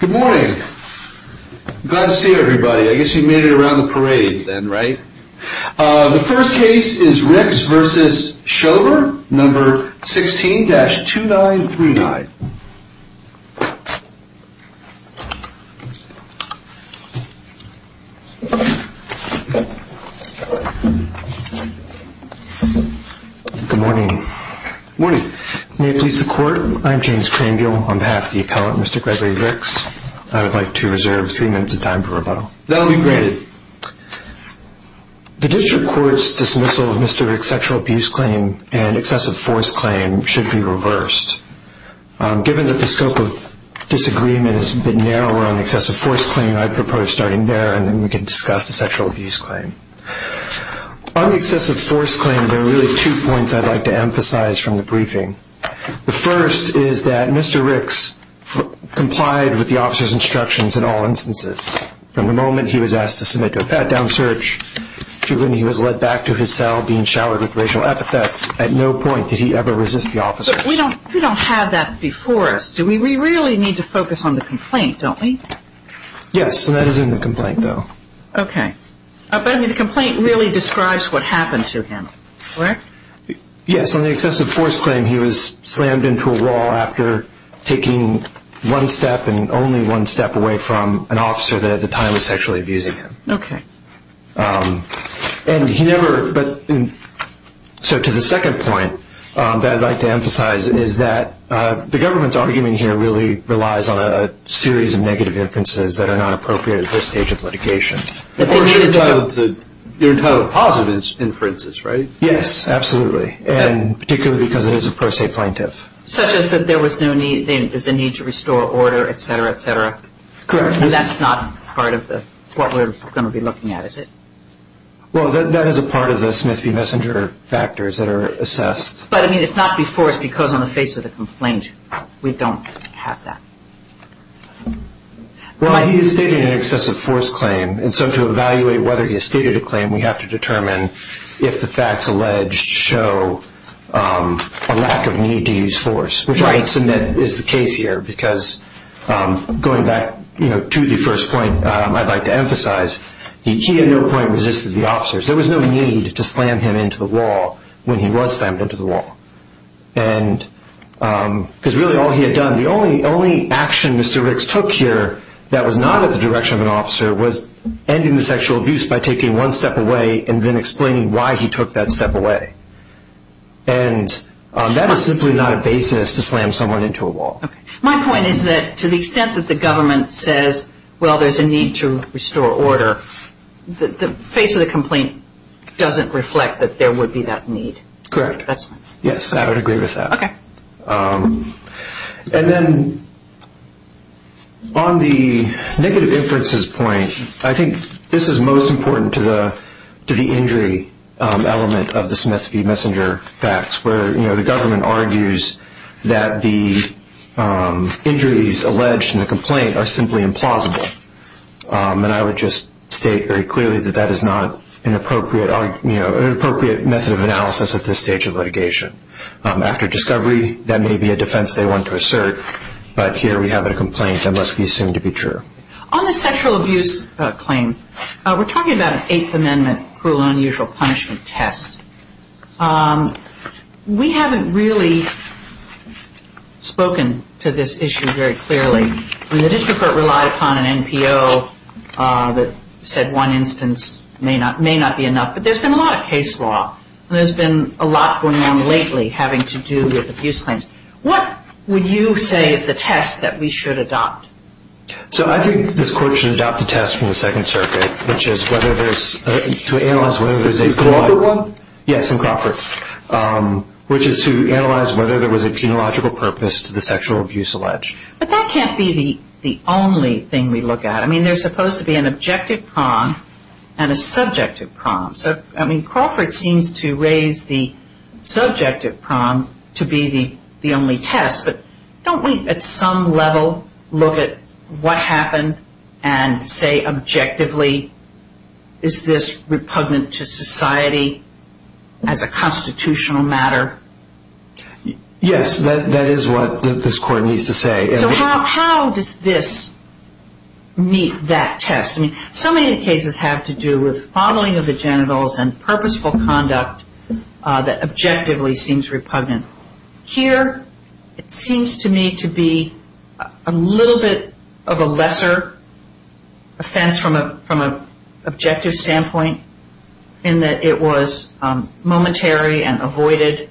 Good morning. Glad to see everybody. I guess you made it around the parade then, right? The first case is Ricks v. Shover, No. 16-2939. Good morning. Good morning. May it please the Court, I am James Crangill on behalf of the appellant, Mr. Gregory Ricks. I would like to reserve three minutes of time for rebuttal. That will be granted. The District Court's dismissal of Mr. Ricks' sexual abuse claim and excessive force claim should be reversed. Given that the scope of disagreement is a bit narrower on the excessive force claim, I propose starting there and then we can discuss the sexual abuse claim. On the excessive force claim, there are really two points I would like to emphasize from the briefing. The first is that Mr. Ricks complied with the officer's instructions in all instances. From the moment he was asked to submit to a pat-down search to when he was led back to his cell being showered with racial epithets, at no point did he ever resist the officer. But we don't have that before us. Do we really need to focus on the complaint, don't we? Yes, and that is in the complaint, though. Okay. But the complaint really describes what happened to him, correct? Yes. On the excessive force claim, he was slammed into a wall after taking one step and only one step away from an officer that at the time was sexually abusing him. Okay. So to the second point that I would like to emphasize is that the government's argument here really relies on a series of negative inferences that are not appropriate at this stage of litigation. Of course, you're entitled to positive inferences, right? Yes, absolutely, and particularly because it is a pro se plaintiff. Such as that there was no need to restore order, et cetera, et cetera? Correct. And that's not part of what we're going to be looking at, is it? Well, that is a part of the Smith v. Messenger factors that are assessed. But, I mean, it's not before us because on the face of the complaint, we don't have that. Well, he has stated an excessive force claim, and so to evaluate whether he has stated a claim, we have to determine if the facts alleged show a lack of need to use force, which I submit is the case here. Because going back to the first point I'd like to emphasize, he at no point resisted the officers. There was no need to slam him into the wall when he was slammed into the wall. Because really all he had done, the only action Mr. Ricks took here that was not at the direction of an officer was ending the sexual abuse by taking one step away and then explaining why he took that step away. And that is simply not a basis to slam someone into a wall. Okay. My point is that to the extent that the government says, well, there's a need to restore order, the face of the complaint doesn't reflect that there would be that need. Correct. Yes, I would agree with that. Okay. And then on the negative inferences point, I think this is most important to the injury element of the Smith v. Messenger facts, where the government argues that the injuries alleged in the complaint are simply implausible. And I would just state very clearly that that is not an appropriate method of analysis at this stage of litigation. After discovery, that may be a defense they want to assert, but here we have a complaint that must be assumed to be true. On the sexual abuse claim, we're talking about an Eighth Amendment cruel and unusual punishment test. We haven't really spoken to this issue very clearly. The district court relied upon an NPO that said one instance may not be enough, but there's been a lot of case law. There's been a lot going on lately having to do with abuse claims. What would you say is the test that we should adopt? So I think this court should adopt the test from the Second Circuit, which is whether there's to analyze whether there's a A Crawford one? Yes, a Crawford, which is to analyze whether there was a penological purpose to the sexual abuse alleged. But that can't be the only thing we look at. I mean, there's supposed to be an objective prong and a subjective prong. So, I mean, Crawford seems to raise the subjective prong to be the only test. But don't we at some level look at what happened and say objectively, is this repugnant to society as a constitutional matter? Yes, that is what this court needs to say. So how does this meet that test? I mean, so many of the cases have to do with following of the genitals and purposeful conduct that objectively seems repugnant. Here it seems to me to be a little bit of a lesser offense from an objective standpoint in that it was momentary and avoided,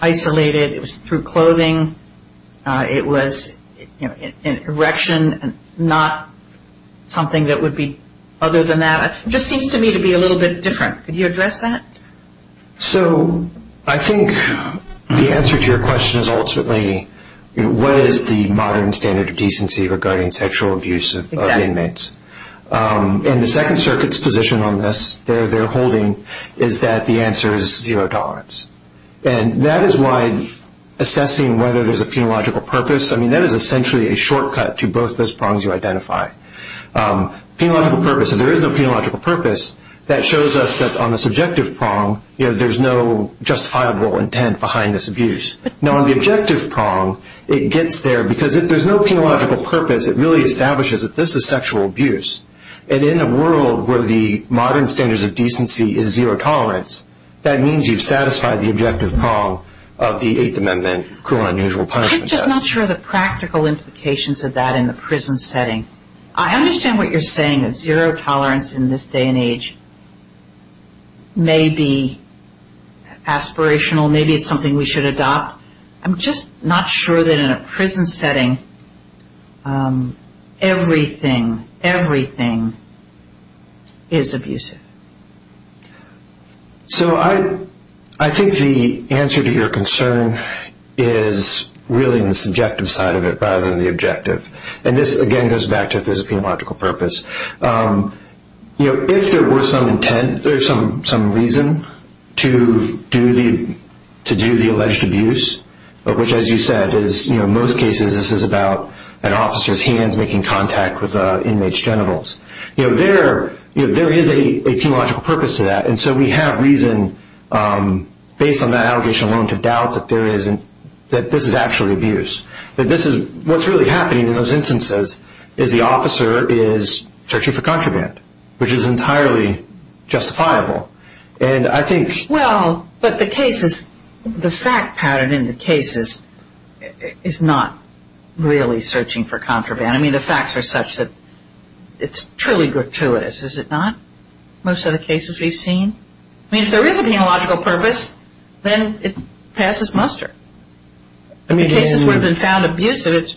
isolated. It was through clothing. It was an erection and not something that would be other than that. It just seems to me to be a little bit different. Could you address that? So I think the answer to your question is ultimately what is the modern standard of decency regarding sexual abuse of inmates? And the Second Circuit's position on this, their holding, is that the answer is zero tolerance. And that is why assessing whether there's a penological purpose, I mean, that is essentially a shortcut to both those prongs you identified. Penological purpose, if there is no penological purpose, that shows us that on the subjective prong, you know, there's no justifiable intent behind this abuse. Now, on the objective prong, it gets there because if there's no penological purpose, it really establishes that this is sexual abuse. And in a world where the modern standards of decency is zero tolerance, that means you've satisfied the objective prong of the Eighth Amendment cruel and unusual punishment test. I'm just not sure the practical implications of that in the prison setting. I understand what you're saying, that zero tolerance in this day and age may be aspirational. Maybe it's something we should adopt. I'm just not sure that in a prison setting, everything, everything is abusive. So I think the answer to your concern is really in the subjective side of it rather than the objective. And this, again, goes back to if there's a penological purpose. You know, if there were some intent or some reason to do the alleged abuse, which, as you said, is, you know, in most cases, this is about an officer's hands making contact with inmate's genitals. You know, there, you know, there is a penological purpose to that. And so we have reason, based on that allegation alone, to doubt that there isn't, that this is actually abuse. That this is, what's really happening in those instances is the officer is searching for contraband, which is entirely justifiable. And I think... Well, but the cases, the fact pattern in the cases is not really searching for contraband. I mean, the facts are such that it's truly gratuitous, is it not? Most of the cases we've seen. I mean, if there is a penological purpose, then it passes muster. I mean, in cases where it's been found abusive, it's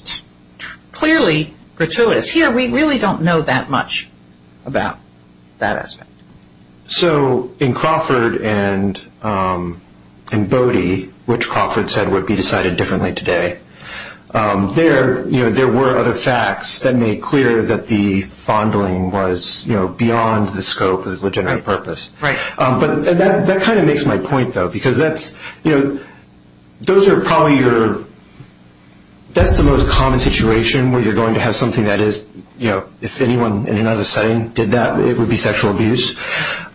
clearly gratuitous. Here, we really don't know that much about that aspect. So in Crawford and Bodie, which Crawford said would be decided differently today, there, you know, there were other facts that made clear that the fondling was, you know, beyond the scope of the legitimate purpose. Right. But that kind of makes my point, though, because that's, you know, those are probably your... That's the most common situation where you're going to have something that is, you know, if anyone in another setting did that, it would be sexual abuse.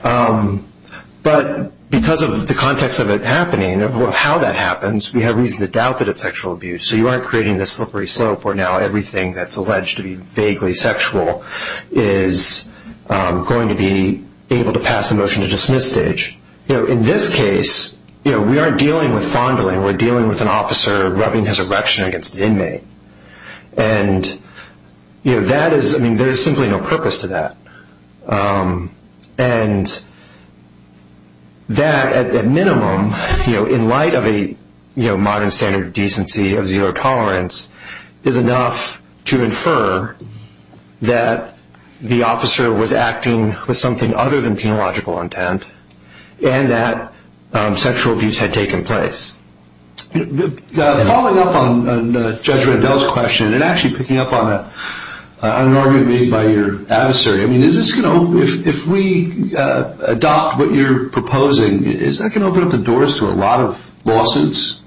But because of the context of it happening, of how that happens, we have reason to doubt that it's sexual abuse. So you aren't creating this slippery slope where now everything that's alleged to be vaguely sexual is going to be able to pass a motion to dismiss stage. You know, in this case, you know, we aren't dealing with fondling. We're dealing with an officer rubbing his erection against an inmate. And, you know, that is... I mean, there is simply no purpose to that. And that, at minimum, you know, in light of a modern standard of decency of zero tolerance, is enough to infer that the officer was acting with something other than penological intent and that sexual abuse had taken place. Following up on Judge Rendell's question and actually picking up on an argument made by your adversary, I mean, is this going to... If we adopt what you're proposing, is that going to open up the doors to a lot of lawsuits?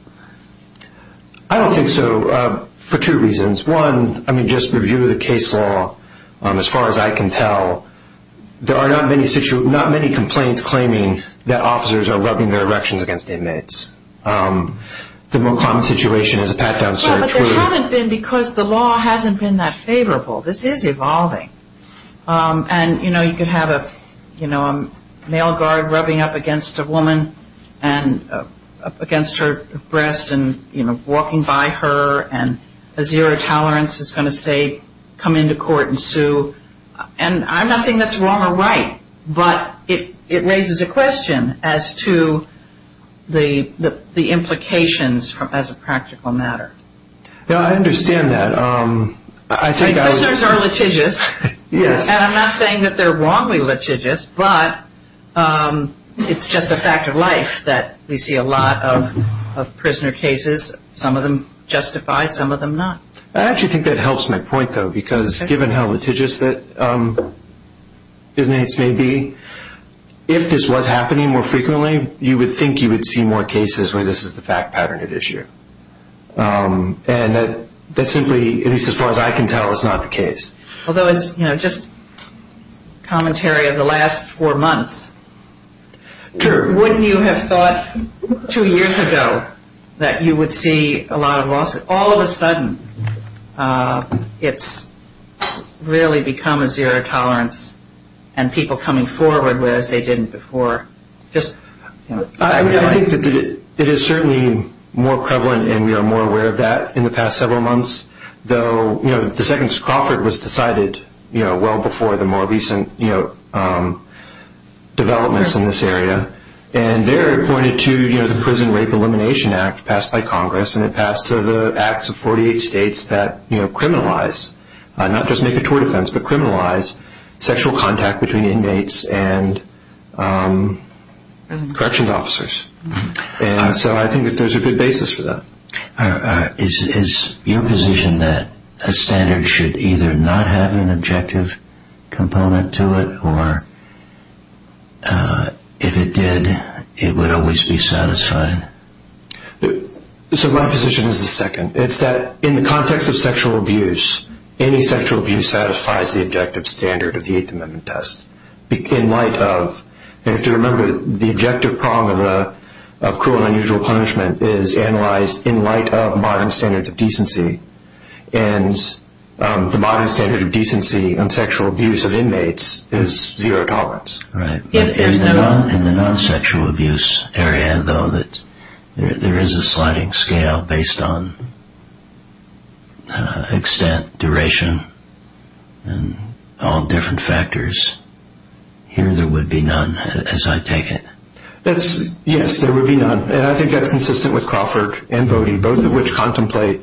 I don't think so, for two reasons. One, I mean, just review the case law as far as I can tell. There are not many complaints claiming that officers are rubbing their erections against inmates. The more common situation is a pat-down search where... And, you know, you could have a, you know, a male guard rubbing up against a woman and up against her breast and, you know, walking by her and a zero tolerance is going to say, come into court and sue. And I'm not saying that's wrong or right, but it raises a question as to the implications as a practical matter. No, I understand that. Prisoners are litigious. Yes. And I'm not saying that they're wrongly litigious, but it's just a fact of life that we see a lot of prisoner cases, some of them justified, some of them not. I actually think that helps my point, though, because given how litigious that inmates may be, if this was happening more frequently, you would think you would see more cases where this is the fact pattern at issue. And that simply, at least as far as I can tell, is not the case. Although it's, you know, just commentary of the last four months. Sure. Wouldn't you have thought two years ago that you would see a lot of lawsuits? All of a sudden, it's really become a zero tolerance and people coming forward with it as they didn't before. I mean, I think that it is certainly more prevalent and we are more aware of that in the past several months, though the Second Crawford was decided well before the more recent developments in this area. And there it pointed to the Prison Rape Elimination Act passed by Congress, and it passed through the acts of 48 states that criminalize, not just makatory defense, but criminalize sexual contact between inmates and corrections officers. And so I think that there's a good basis for that. Is your position that a standard should either not have an objective component to it, or if it did, it would always be satisfied? So my position is the second. It's that in the context of sexual abuse, any sexual abuse satisfies the objective standard of the Eighth Amendment test. In light of, you have to remember, the objective problem of cruel and unusual punishment is analyzed in light of modern standards of decency, and the modern standard of decency on sexual abuse of inmates is zero tolerance. In the non-sexual abuse area, though, there is a sliding scale based on extent, duration, and all different factors. Here there would be none, as I take it. Yes, there would be none, and I think that's consistent with Crawford and Voti, both of which contemplate,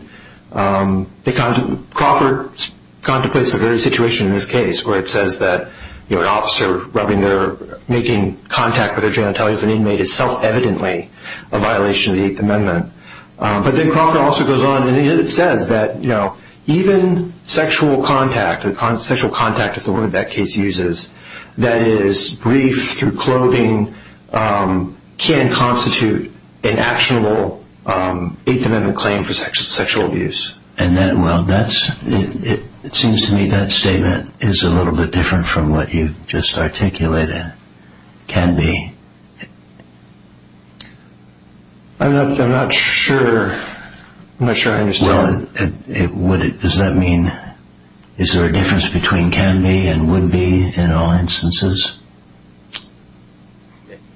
Crawford contemplates the very situation in this case where it says that an officer rubbing their, making contact with a genitalia of an inmate is self-evidently a violation of the Eighth Amendment. But then Crawford also goes on, and it says that even sexual contact, the sexual contact that the woman in that case uses, that is brief through clothing, can constitute an actionable Eighth Amendment claim for sexual abuse. And that, well, that's, it seems to me that statement is a little bit different from what you've just articulated, can be. I'm not sure, I'm not sure I understand. Well, does that mean, is there a difference between can be and would be in all instances?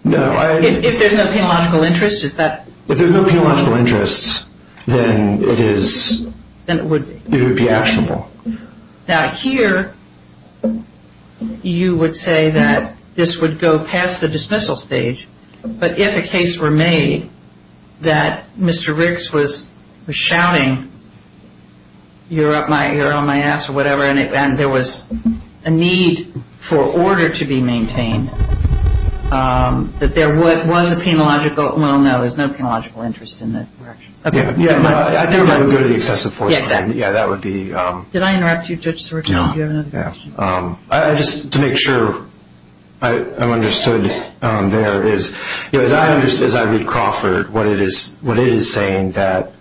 If there's no penological interest, is that? If there's no penological interest, then it is, it would be actionable. Now here, you would say that this would go past the dismissal stage, but if a case were made that Mr. Ricks was shouting, you're up my, you're on my ass, or whatever, and there was a need for order to be maintained, that there was a penological, well, no, there's no penological interest in that direction. Yeah, I think it would go to the excessive force. Yeah, exactly. Yeah, that would be. Did I interrupt you, Judge Sorrentino? No. Do you have another question? I just, to make sure I'm understood there is, as I read Crawford, what it is saying that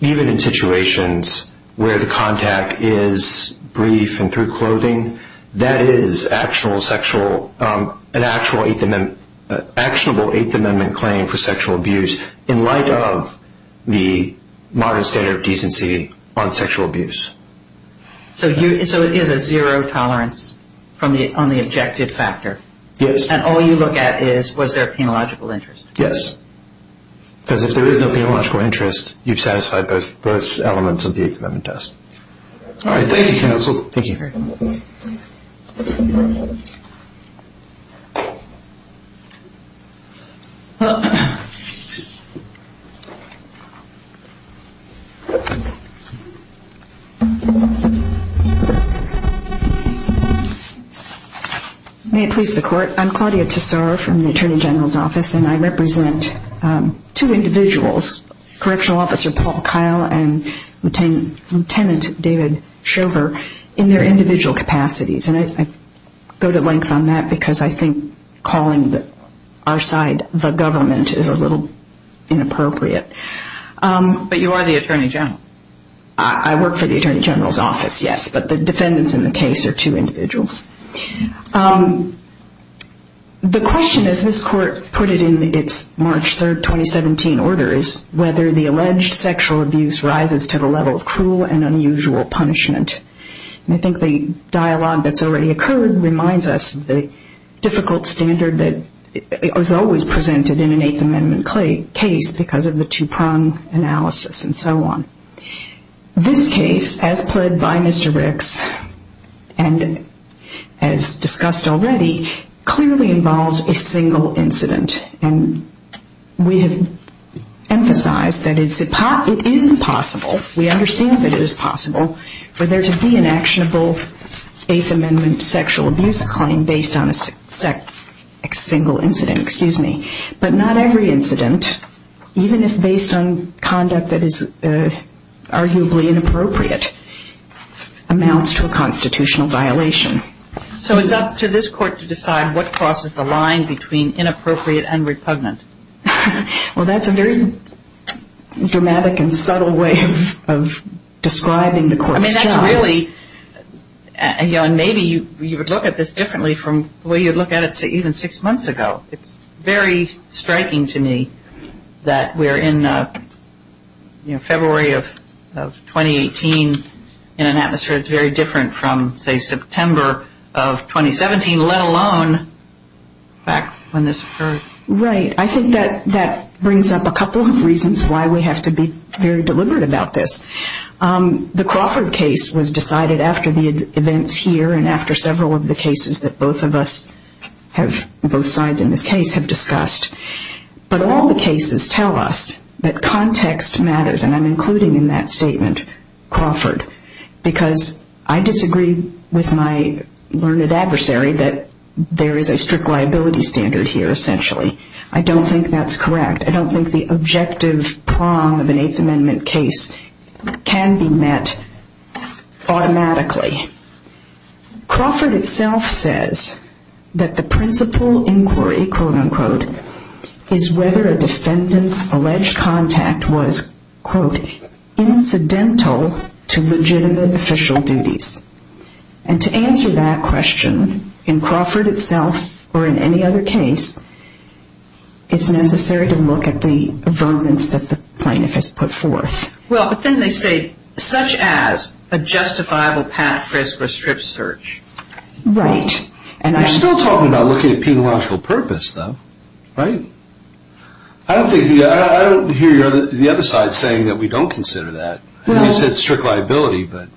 even in situations where the contact is brief and through clothing, that is an actionable Eighth Amendment claim for sexual abuse in light of the modern standard of decency on sexual abuse. So it is a zero tolerance on the objective factor? Yes. And all you look at is was there a penological interest? Yes, because if there is no penological interest, you've satisfied both elements of the Eighth Amendment test. All right. Thank you, counsel. Thank you. May it please the Court. I'm Claudia Tesoro from the Attorney General's Office, and I represent two individuals, Correctional Officer Paul Kyle and Lieutenant David Shover, in their individual capacities. And I go to length on that because I think calling our side the government is a little inappropriate. But you are the Attorney General. I work for the Attorney General's Office, yes, but the defendants in the case are two individuals. The question, as this Court put it in its March 3, 2017 order, is whether the alleged sexual abuse rises to the level of cruel and unusual punishment. And I think the dialogue that's already occurred reminds us of the difficult standard that was always presented in an Eighth Amendment case because of the two-prong analysis and so on. This case, as pled by Mr. Ricks and as discussed already, clearly involves a single incident. And we have emphasized that it is possible, we understand that it is possible, for there to be an actionable Eighth Amendment sexual abuse claim based on a single incident. But not every incident, even if based on conduct that is arguably inappropriate, amounts to a constitutional violation. So it's up to this Court to decide what crosses the line between inappropriate and repugnant. Well, that's a very dramatic and subtle way of describing the Court's job. And maybe you would look at this differently from the way you'd look at it even six months ago. It's very striking to me that we're in February of 2018 in an atmosphere that's very different from, say, September of 2017, let alone back when this occurred. Right. I think that brings up a couple of reasons why we have to be very deliberate about this. The Crawford case was decided after the events here and after several of the cases that both of us have, both sides in this case, have discussed. But all the cases tell us that context matters, and I'm including in that statement Crawford, because I disagree with my learned adversary that there is a strict liability standard here, essentially. I don't think that's correct. I don't think the objective prong of an Eighth Amendment case can be met automatically. Crawford itself says that the principal inquiry, quote-unquote, is whether a defendant's alleged contact was, quote, it's necessary to look at the vermins that the plaintiff has put forth. Well, but then they say, such as a justifiable path risk or strict search. Right. We're still talking about looking at peniological purpose, though, right? I don't hear the other side saying that we don't consider that. You said strict liability, but...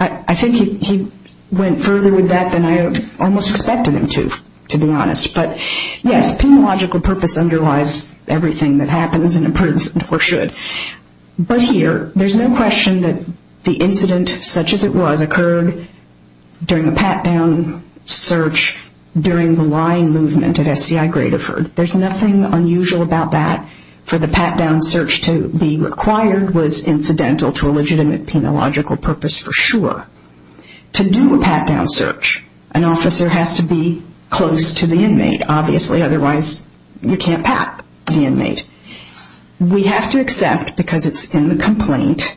I think he went further with that than I almost expected him to, to be honest. But, yes, peniological purpose underlies everything that happens in a prison, or should. But here, there's no question that the incident, such as it was, occurred during a pat-down search during the lying movement at SCI Gradoford. There's nothing unusual about that. For the pat-down search to be required was incidental to a legitimate peniological purpose for sure. To do a pat-down search, an officer has to be close to the inmate, obviously. Otherwise, you can't pat the inmate. We have to accept, because it's in the complaint,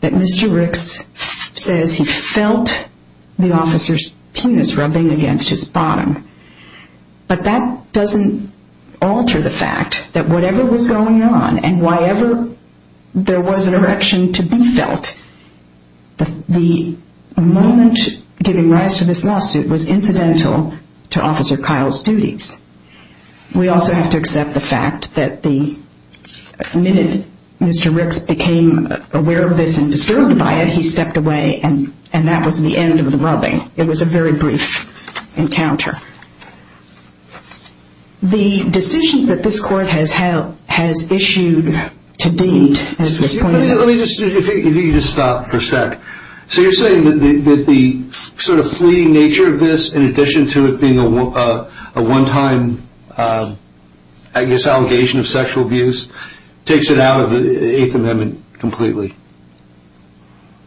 that Mr. Ricks says he felt the officer's penis rubbing against his bottom. But that doesn't alter the fact that whatever was going on and whyever there was an erection to be felt, the moment giving rise to this lawsuit was incidental to Officer Kyle's duties. We also have to accept the fact that the minute Mr. Ricks became aware of this and disturbed by it, he stepped away and that was the end of the rubbing. It was a very brief encounter. The decisions that this court has issued to Deed, as was pointed out... Let me just, if you could just stop for a sec. So you're saying that the sort of fleeting nature of this, in addition to it being a one-time, I guess, allegation of sexual abuse, takes it out of the Eighth Amendment completely?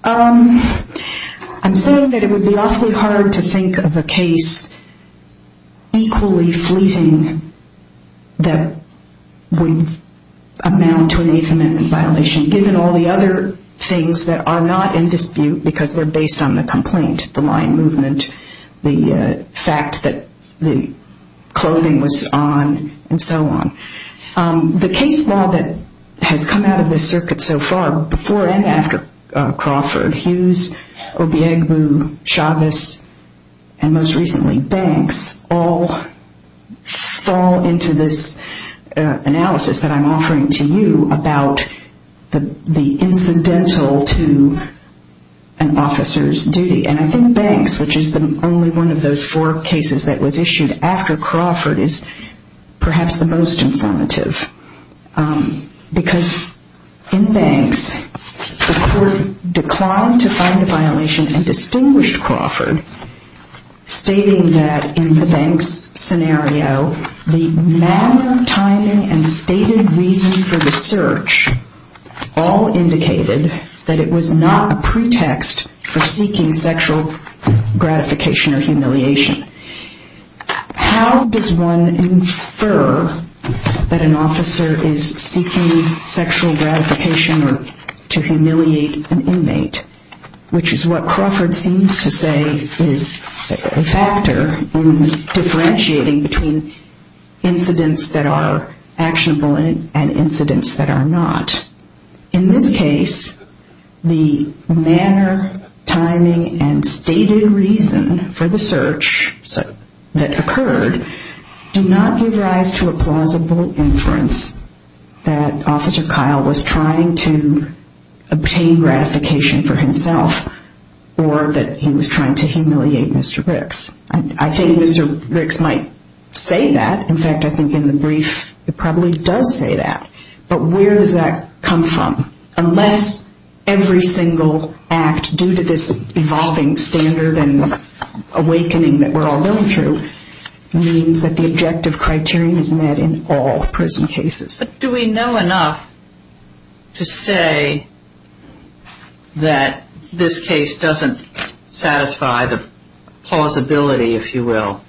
I'm saying that it would be awfully hard to think of a case equally fleeting that would amount to an Eighth Amendment violation, given all the other things that are not in dispute because they're based on the complaint, the line movement, the fact that the clothing was on, and so on. The case law that has come out of this circuit so far, before and after Crawford, Hughes, Obiegbu, Chavez, and most recently Banks, all fall into this analysis that I'm offering to you about the incidental to an officer's duty. And I think Banks, which is only one of those four cases that was issued after Crawford, is perhaps the most informative. Because in Banks, the court declined to find a violation and distinguished Crawford, stating that in the Banks scenario, the manner, timing, and stated reason for the search all indicated that it was not a pretext for seeking sexual gratification or humiliation. How does one infer that an officer is seeking sexual gratification or to humiliate an inmate, which is what Crawford seems to say is a factor in differentiating between incidents that are actionable and incidents that are not? In this case, the manner, timing, and stated reason for the search that occurred do not give rise to a plausible inference that Officer Kyle was trying to obtain gratification for himself or that he was trying to humiliate Mr. Briggs. I think Mr. Briggs might say that. In fact, I think in the brief it probably does say that. But where does that come from? Unless every single act, due to this evolving standard and awakening that we're all going through, means that the objective criterion is met in all prison cases. But do we know enough to say that this case doesn't satisfy the plausibility, if you will?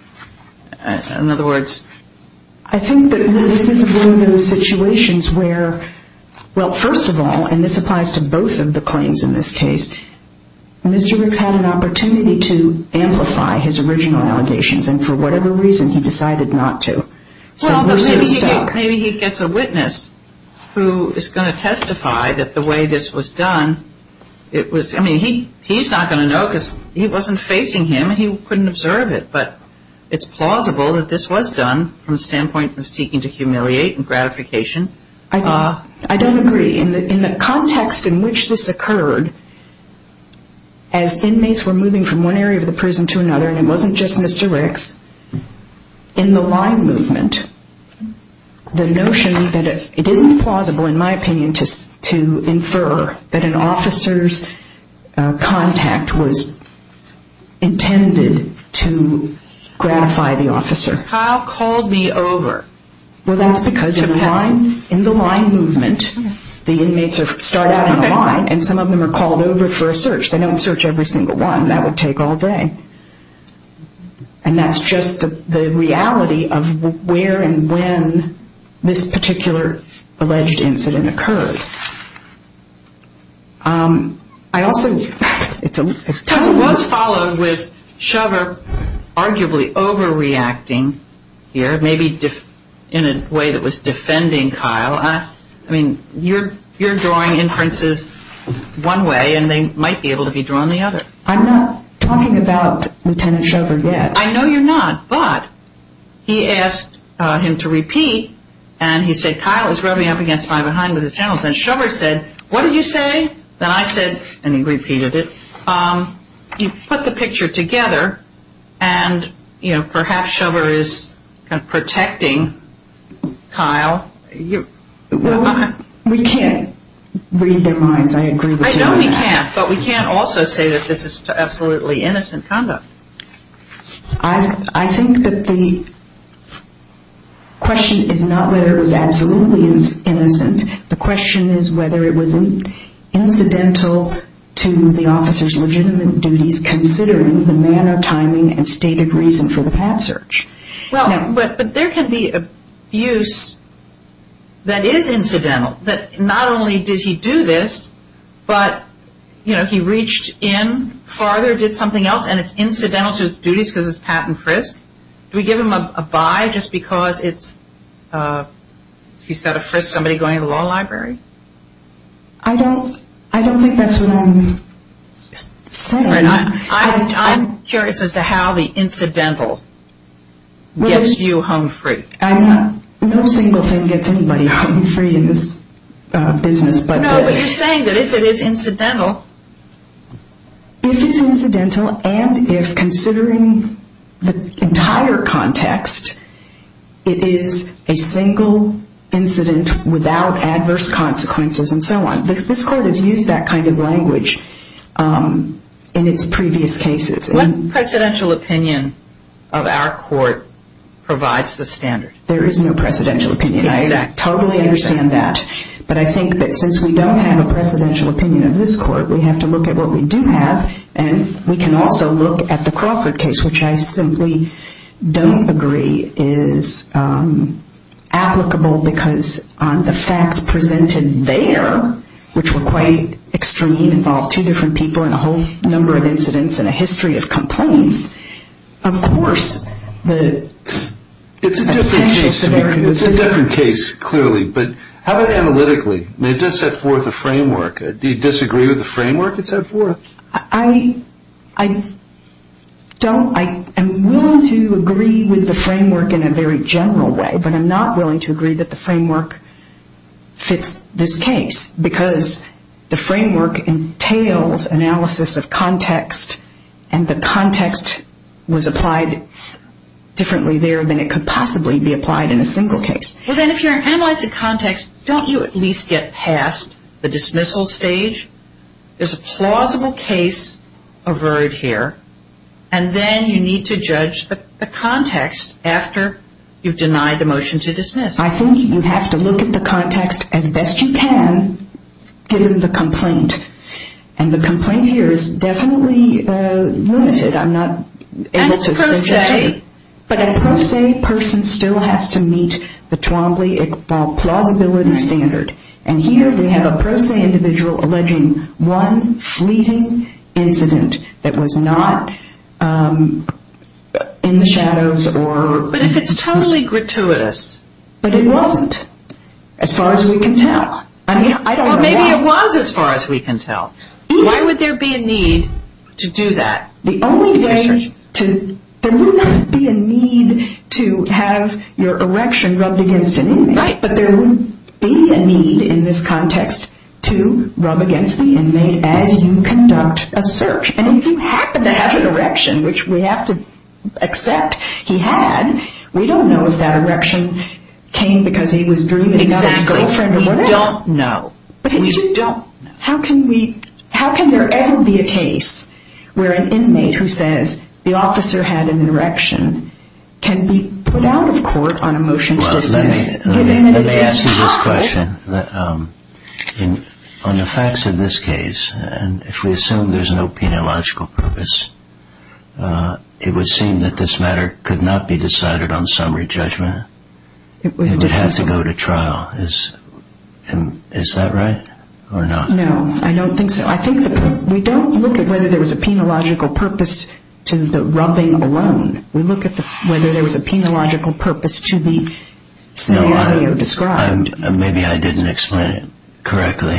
In other words... I think that this is one of those situations where, well, first of all, and this applies to both of the claims in this case, Mr. Briggs had an opportunity to amplify his original allegations, and for whatever reason he decided not to. Well, maybe he gets a witness who is going to testify that the way this was done, I mean, he's not going to know because he wasn't facing him and he couldn't observe it. But it's plausible that this was done from the standpoint of seeking to humiliate and gratification. I don't agree. In the context in which this occurred, as inmates were moving from one area of the prison to another, and it wasn't just Mr. Briggs, in the line movement, the notion that it isn't plausible, in my opinion, to infer that an officer's contact was intended to gratify the officer. Kyle called me over. Well, that's because in the line movement, the inmates start out in the line, and some of them are called over for a search. They don't search every single one. That would take all day. And that's just the reality of where and when this particular alleged incident occurred. I also ‑‑ It was followed with Shover arguably overreacting here, maybe in a way that was defending Kyle. I mean, you're drawing inferences one way, and they might be able to be drawn the other. I'm not talking about Lieutenant Shover yet. I know you're not, but he asked him to repeat, and he said, Kyle is rubbing up against my behind with his genitals. And Shover said, what did you say? Then I said, and he repeated it, you put the picture together, and perhaps Shover is protecting Kyle. We can't read their minds. I agree with you on that. I know we can't, but we can't also say that this is absolutely innocent conduct. I think that the question is not whether it was absolutely innocent. The question is whether it was incidental to the officer's legitimate duties considering the manner, timing, and stated reason for the patent search. But there can be abuse that is incidental. Not only did he do this, but he reached in farther, did something else, and it's incidental to his duties because it's patent frisk. Do we give him a bye just because he's got to frisk somebody going to the law library? I don't think that's what I'm saying. I'm curious as to how the incidental gets you home free. No single thing gets anybody home free in this business. No, but you're saying that if it is incidental. If it's incidental, and if considering the entire context, it is a single incident without adverse consequences and so on. This court has used that kind of language in its previous cases. What presidential opinion of our court provides the standard? There is no presidential opinion. I totally understand that. But I think that since we don't have a presidential opinion in this court, we have to look at what we do have. We can also look at the Crawford case, which I simply don't agree is applicable because the facts presented there, which were quite extreme, involved two different people and a whole number of incidents and a history of complaints. Of course, the potential severity was different. It's a different case, clearly. But how about analytically? It does set forth a framework. Do you disagree with the framework it set forth? I don't. I am willing to agree with the framework in a very general way, but I'm not willing to agree that the framework fits this case because the framework entails analysis of context, and the context was applied differently there than it could possibly be applied in a single case. Well, then, if you're analyzing context, don't you at least get past the dismissal stage? There's a plausible case averted here, and then you need to judge the context after you've denied the motion to dismiss. I think you have to look at the context as best you can given the complaint, and the complaint here is definitely limited. I'm not able to suggest it. But a pro se person still has to meet the Twombly plausibility standard, and here we have a pro se individual alleging one fleeting incident that was not in the shadows or... But if it's totally gratuitous... But it wasn't, as far as we can tell. Well, maybe it was as far as we can tell. Why would there be a need to do that? The only way to... There would not be a need to have your erection rubbed against an inmate, but there would be a need in this context to rub against the inmate as you conduct a search. And if you happen to have an erection, which we have to accept he had, we don't know if that erection came because he was dreaming of his girlfriend or whatever. We don't know. How can we... How can there ever be a case where an inmate who says the officer had an erection can be put out of court on a motion to dismiss? Let me ask you this question. On the facts of this case, and if we assume there's no peniological purpose, it would seem that this matter could not be decided on summary judgment. It would have to go to trial. Is that right or not? No, I don't think so. We don't look at whether there was a peniological purpose to the rubbing alone. We look at whether there was a peniological purpose to the scenario described. Maybe I didn't explain it correctly.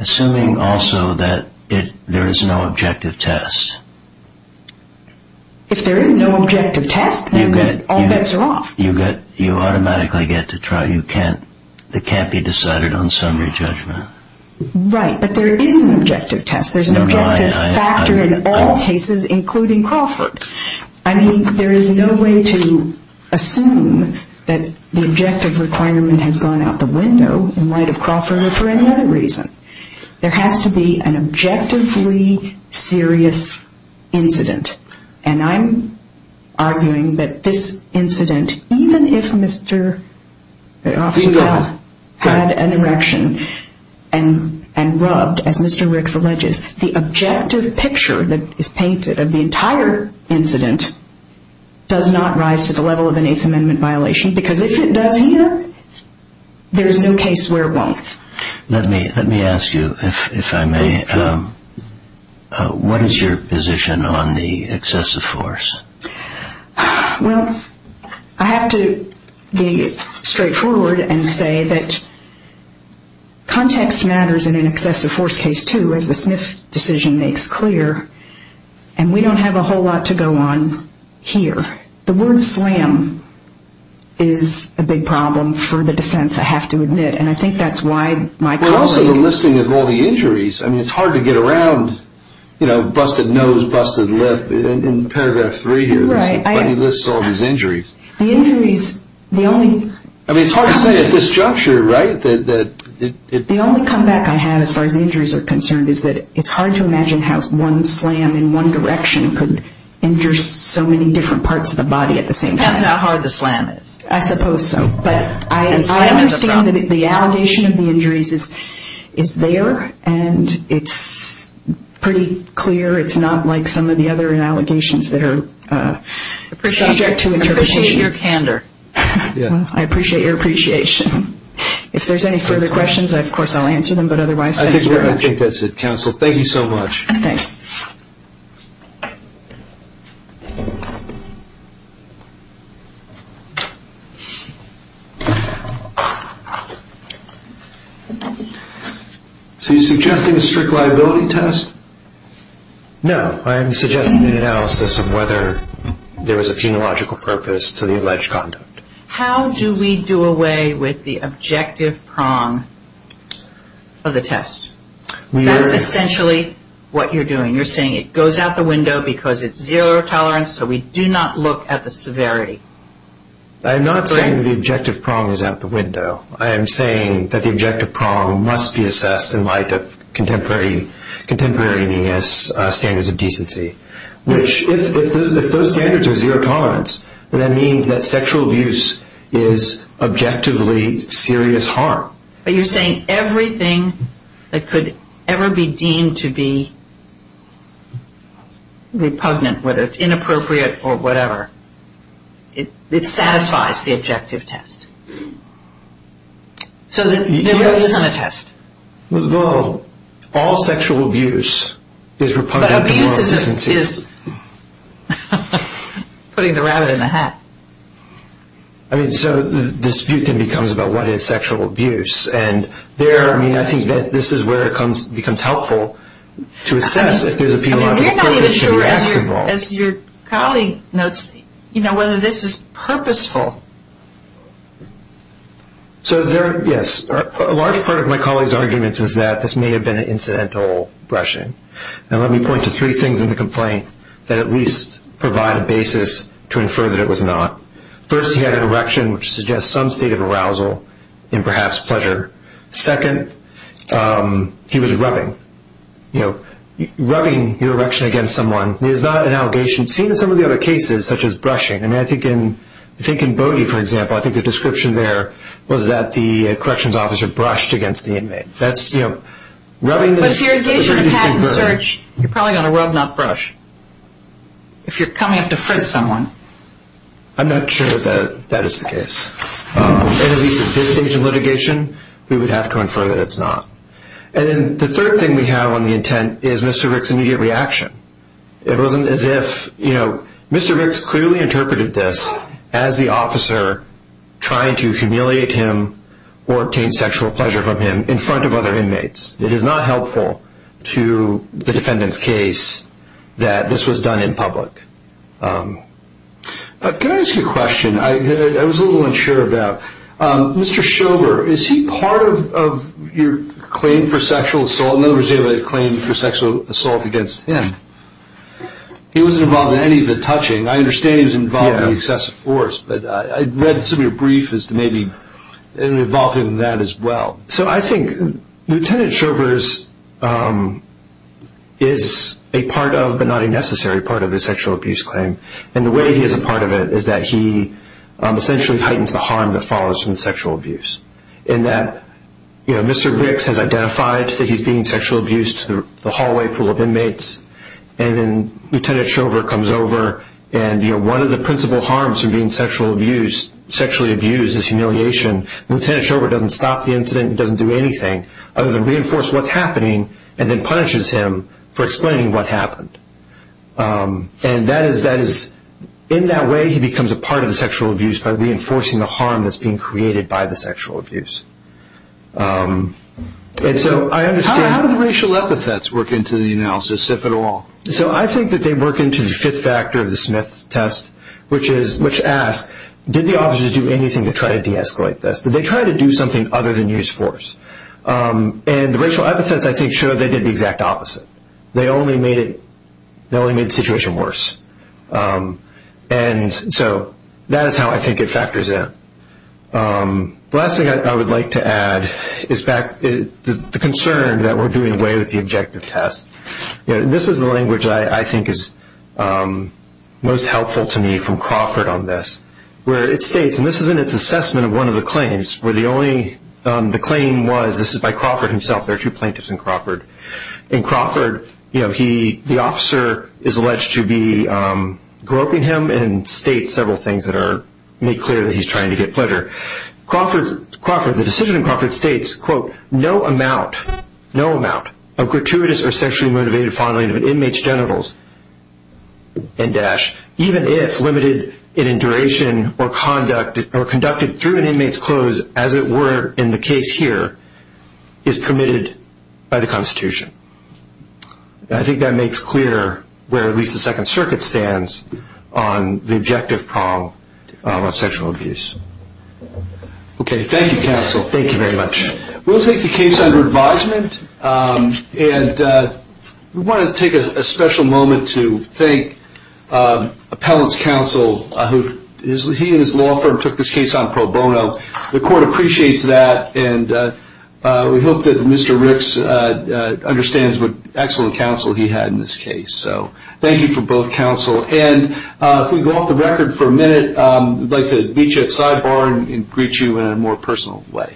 Assuming also that there is no objective test. If there is no objective test, all bets are off. You automatically get to try. It can't be decided on summary judgment. Right, but there is an objective test. There's an objective factor in all cases, including Crawford. I mean, there is no way to assume that the objective requirement has gone out the window in light of Crawford or for any other reason. There has to be an objectively serious incident, and I'm arguing that this incident, even if Mr. Osterwald had an erection and rubbed, as Mr. Ricks alleges, the objective picture that is painted of the entire incident does not rise to the level of an Eighth Amendment violation, because if it does here, there is no case where it won't. Let me ask you, if I may, what is your position on the excessive force? Well, I have to be straightforward and say that context matters in an excessive force case, too, as the Smith decision makes clear, and we don't have a whole lot to go on here. The word slam is a big problem for the defense, I have to admit, and I think that's why my policy... And also the listing of all the injuries. I mean, it's hard to get around, you know, busted nose, busted lip, in paragraph three here, but he lists all these injuries. The injuries, the only... I mean, it's hard to say at this juncture, right, that... The only comeback I have, as far as injuries are concerned, is that it's hard to imagine how one slam in one direction could injure so many different parts of the body at the same time. Depends how hard the slam is. I suppose so. But I understand that the allegation of the injuries is there, and it's pretty clear it's not like some of the other allegations that are subject to interpretation. I appreciate your candor. I appreciate your appreciation. If there's any further questions, of course, I'll answer them, but otherwise, thank you very much. I think that's it, counsel. Thank you so much. Thanks. So you're suggesting a strict liability test? No. I'm suggesting an analysis of whether there was a phenological purpose to the alleged conduct. How do we do away with the objective prong of the test? That's essentially what you're doing. You're saying it goes out the window because it's zero tolerance, so we do not look at the severity. I'm not saying the objective prong is out the window. I am saying that the objective prong must be assessed in light of contemporary standards of decency. If those standards are zero tolerance, then that means that sexual abuse is objectively serious harm. But you're saying everything that could ever be deemed to be repugnant, whether it's inappropriate or whatever, it satisfies the objective test. So there really isn't a test. Well, all sexual abuse is repugnant to moral decency. But abuse is putting the rabbit in the hat. So the dispute then becomes about what is sexual abuse, and I think this is where it becomes helpful to assess if there's a phenological purpose to the acts involved. As your colleague notes, whether this is purposeful. Yes. A large part of my colleague's argument is that this may have been an incidental brushing. Let me point to three things in the complaint that at least provide a basis to infer that it was not. First, he had an erection, which suggests some state of arousal and perhaps pleasure. Second, he was rubbing. Rubbing your erection against someone is not an allegation. It's seen in some of the other cases, such as brushing. I think in Bodie, for example, I think the description there was that the corrections officer brushed against the inmate. But if you're engaged in a patent search, you're probably going to rub, not brush. If you're coming up to frisk someone. I'm not sure that that is the case. At least at this stage of litigation, we would have to infer that it's not. And the third thing we have on the intent is Mr. Ricks' immediate reaction. It wasn't as if, you know, Mr. Ricks clearly interpreted this as the officer trying to humiliate him or obtain sexual pleasure from him in front of other inmates. It is not helpful to the defendant's case that this was done in public. Can I ask you a question? I was a little unsure about. Mr. Sherber, is he part of your claim for sexual assault? In other words, your claim for sexual assault against him. He wasn't involved in any of the touching. I understand he was involved in the excessive force. But I read some of your briefs as to maybe involved in that as well. So I think Lieutenant Sherber is a part of, but not a necessary part of the sexual abuse claim. And the way he is a part of it is that he essentially heightens the harm that follows from sexual abuse. In that, you know, Mr. Ricks has identified that he's being sexual abused through the hallway full of inmates. And then Lieutenant Sherber comes over and, you know, one of the principal harms from being sexually abused is humiliation. Lieutenant Sherber doesn't stop the incident and doesn't do anything other than reinforce what's happening and then punishes him for explaining what happened. And that is, in that way, he becomes a part of the sexual abuse by reinforcing the harm that's being created by the sexual abuse. And so I understand. How do the racial epithets work into the analysis, if at all? So I think that they work into the fifth factor of the Smith test, which asks, did the officers do anything to try to de-escalate this? Did they try to do something other than use force? And the racial epithets, I think, show they did the exact opposite. They only made the situation worse. And so that is how I think it factors in. The last thing I would like to add is the concern that we're doing away with the objective test. This is the language I think is most helpful to me from Crawford on this, where it states, and this is in its assessment of one of the claims, where the claim was, this is by Crawford himself, there are two plaintiffs in Crawford. In Crawford, the officer is alleged to be groping him and states several things that are made clear that he's trying to get pleasure. The decision in Crawford states, quote, no amount of gratuitous or sexually motivated fondling of an inmate's genitals, end dash, even if limited in duration or conducted through an inmate's clothes, as it were in the case here, is permitted by the Constitution. I think that makes clear where at least the Second Circuit stands on the objective problem of sexual abuse. Okay, thank you, counsel. Thank you very much. We'll take the case under advisement. And we want to take a special moment to thank Appellant's counsel, who he and his law firm took this case on pro bono. The court appreciates that, and we hope that Mr. Ricks understands what excellent counsel he had in this case. So thank you for both counsel. And if we can go off the record for a minute, we'd like to meet you at Sidebar and greet you in a more personal way.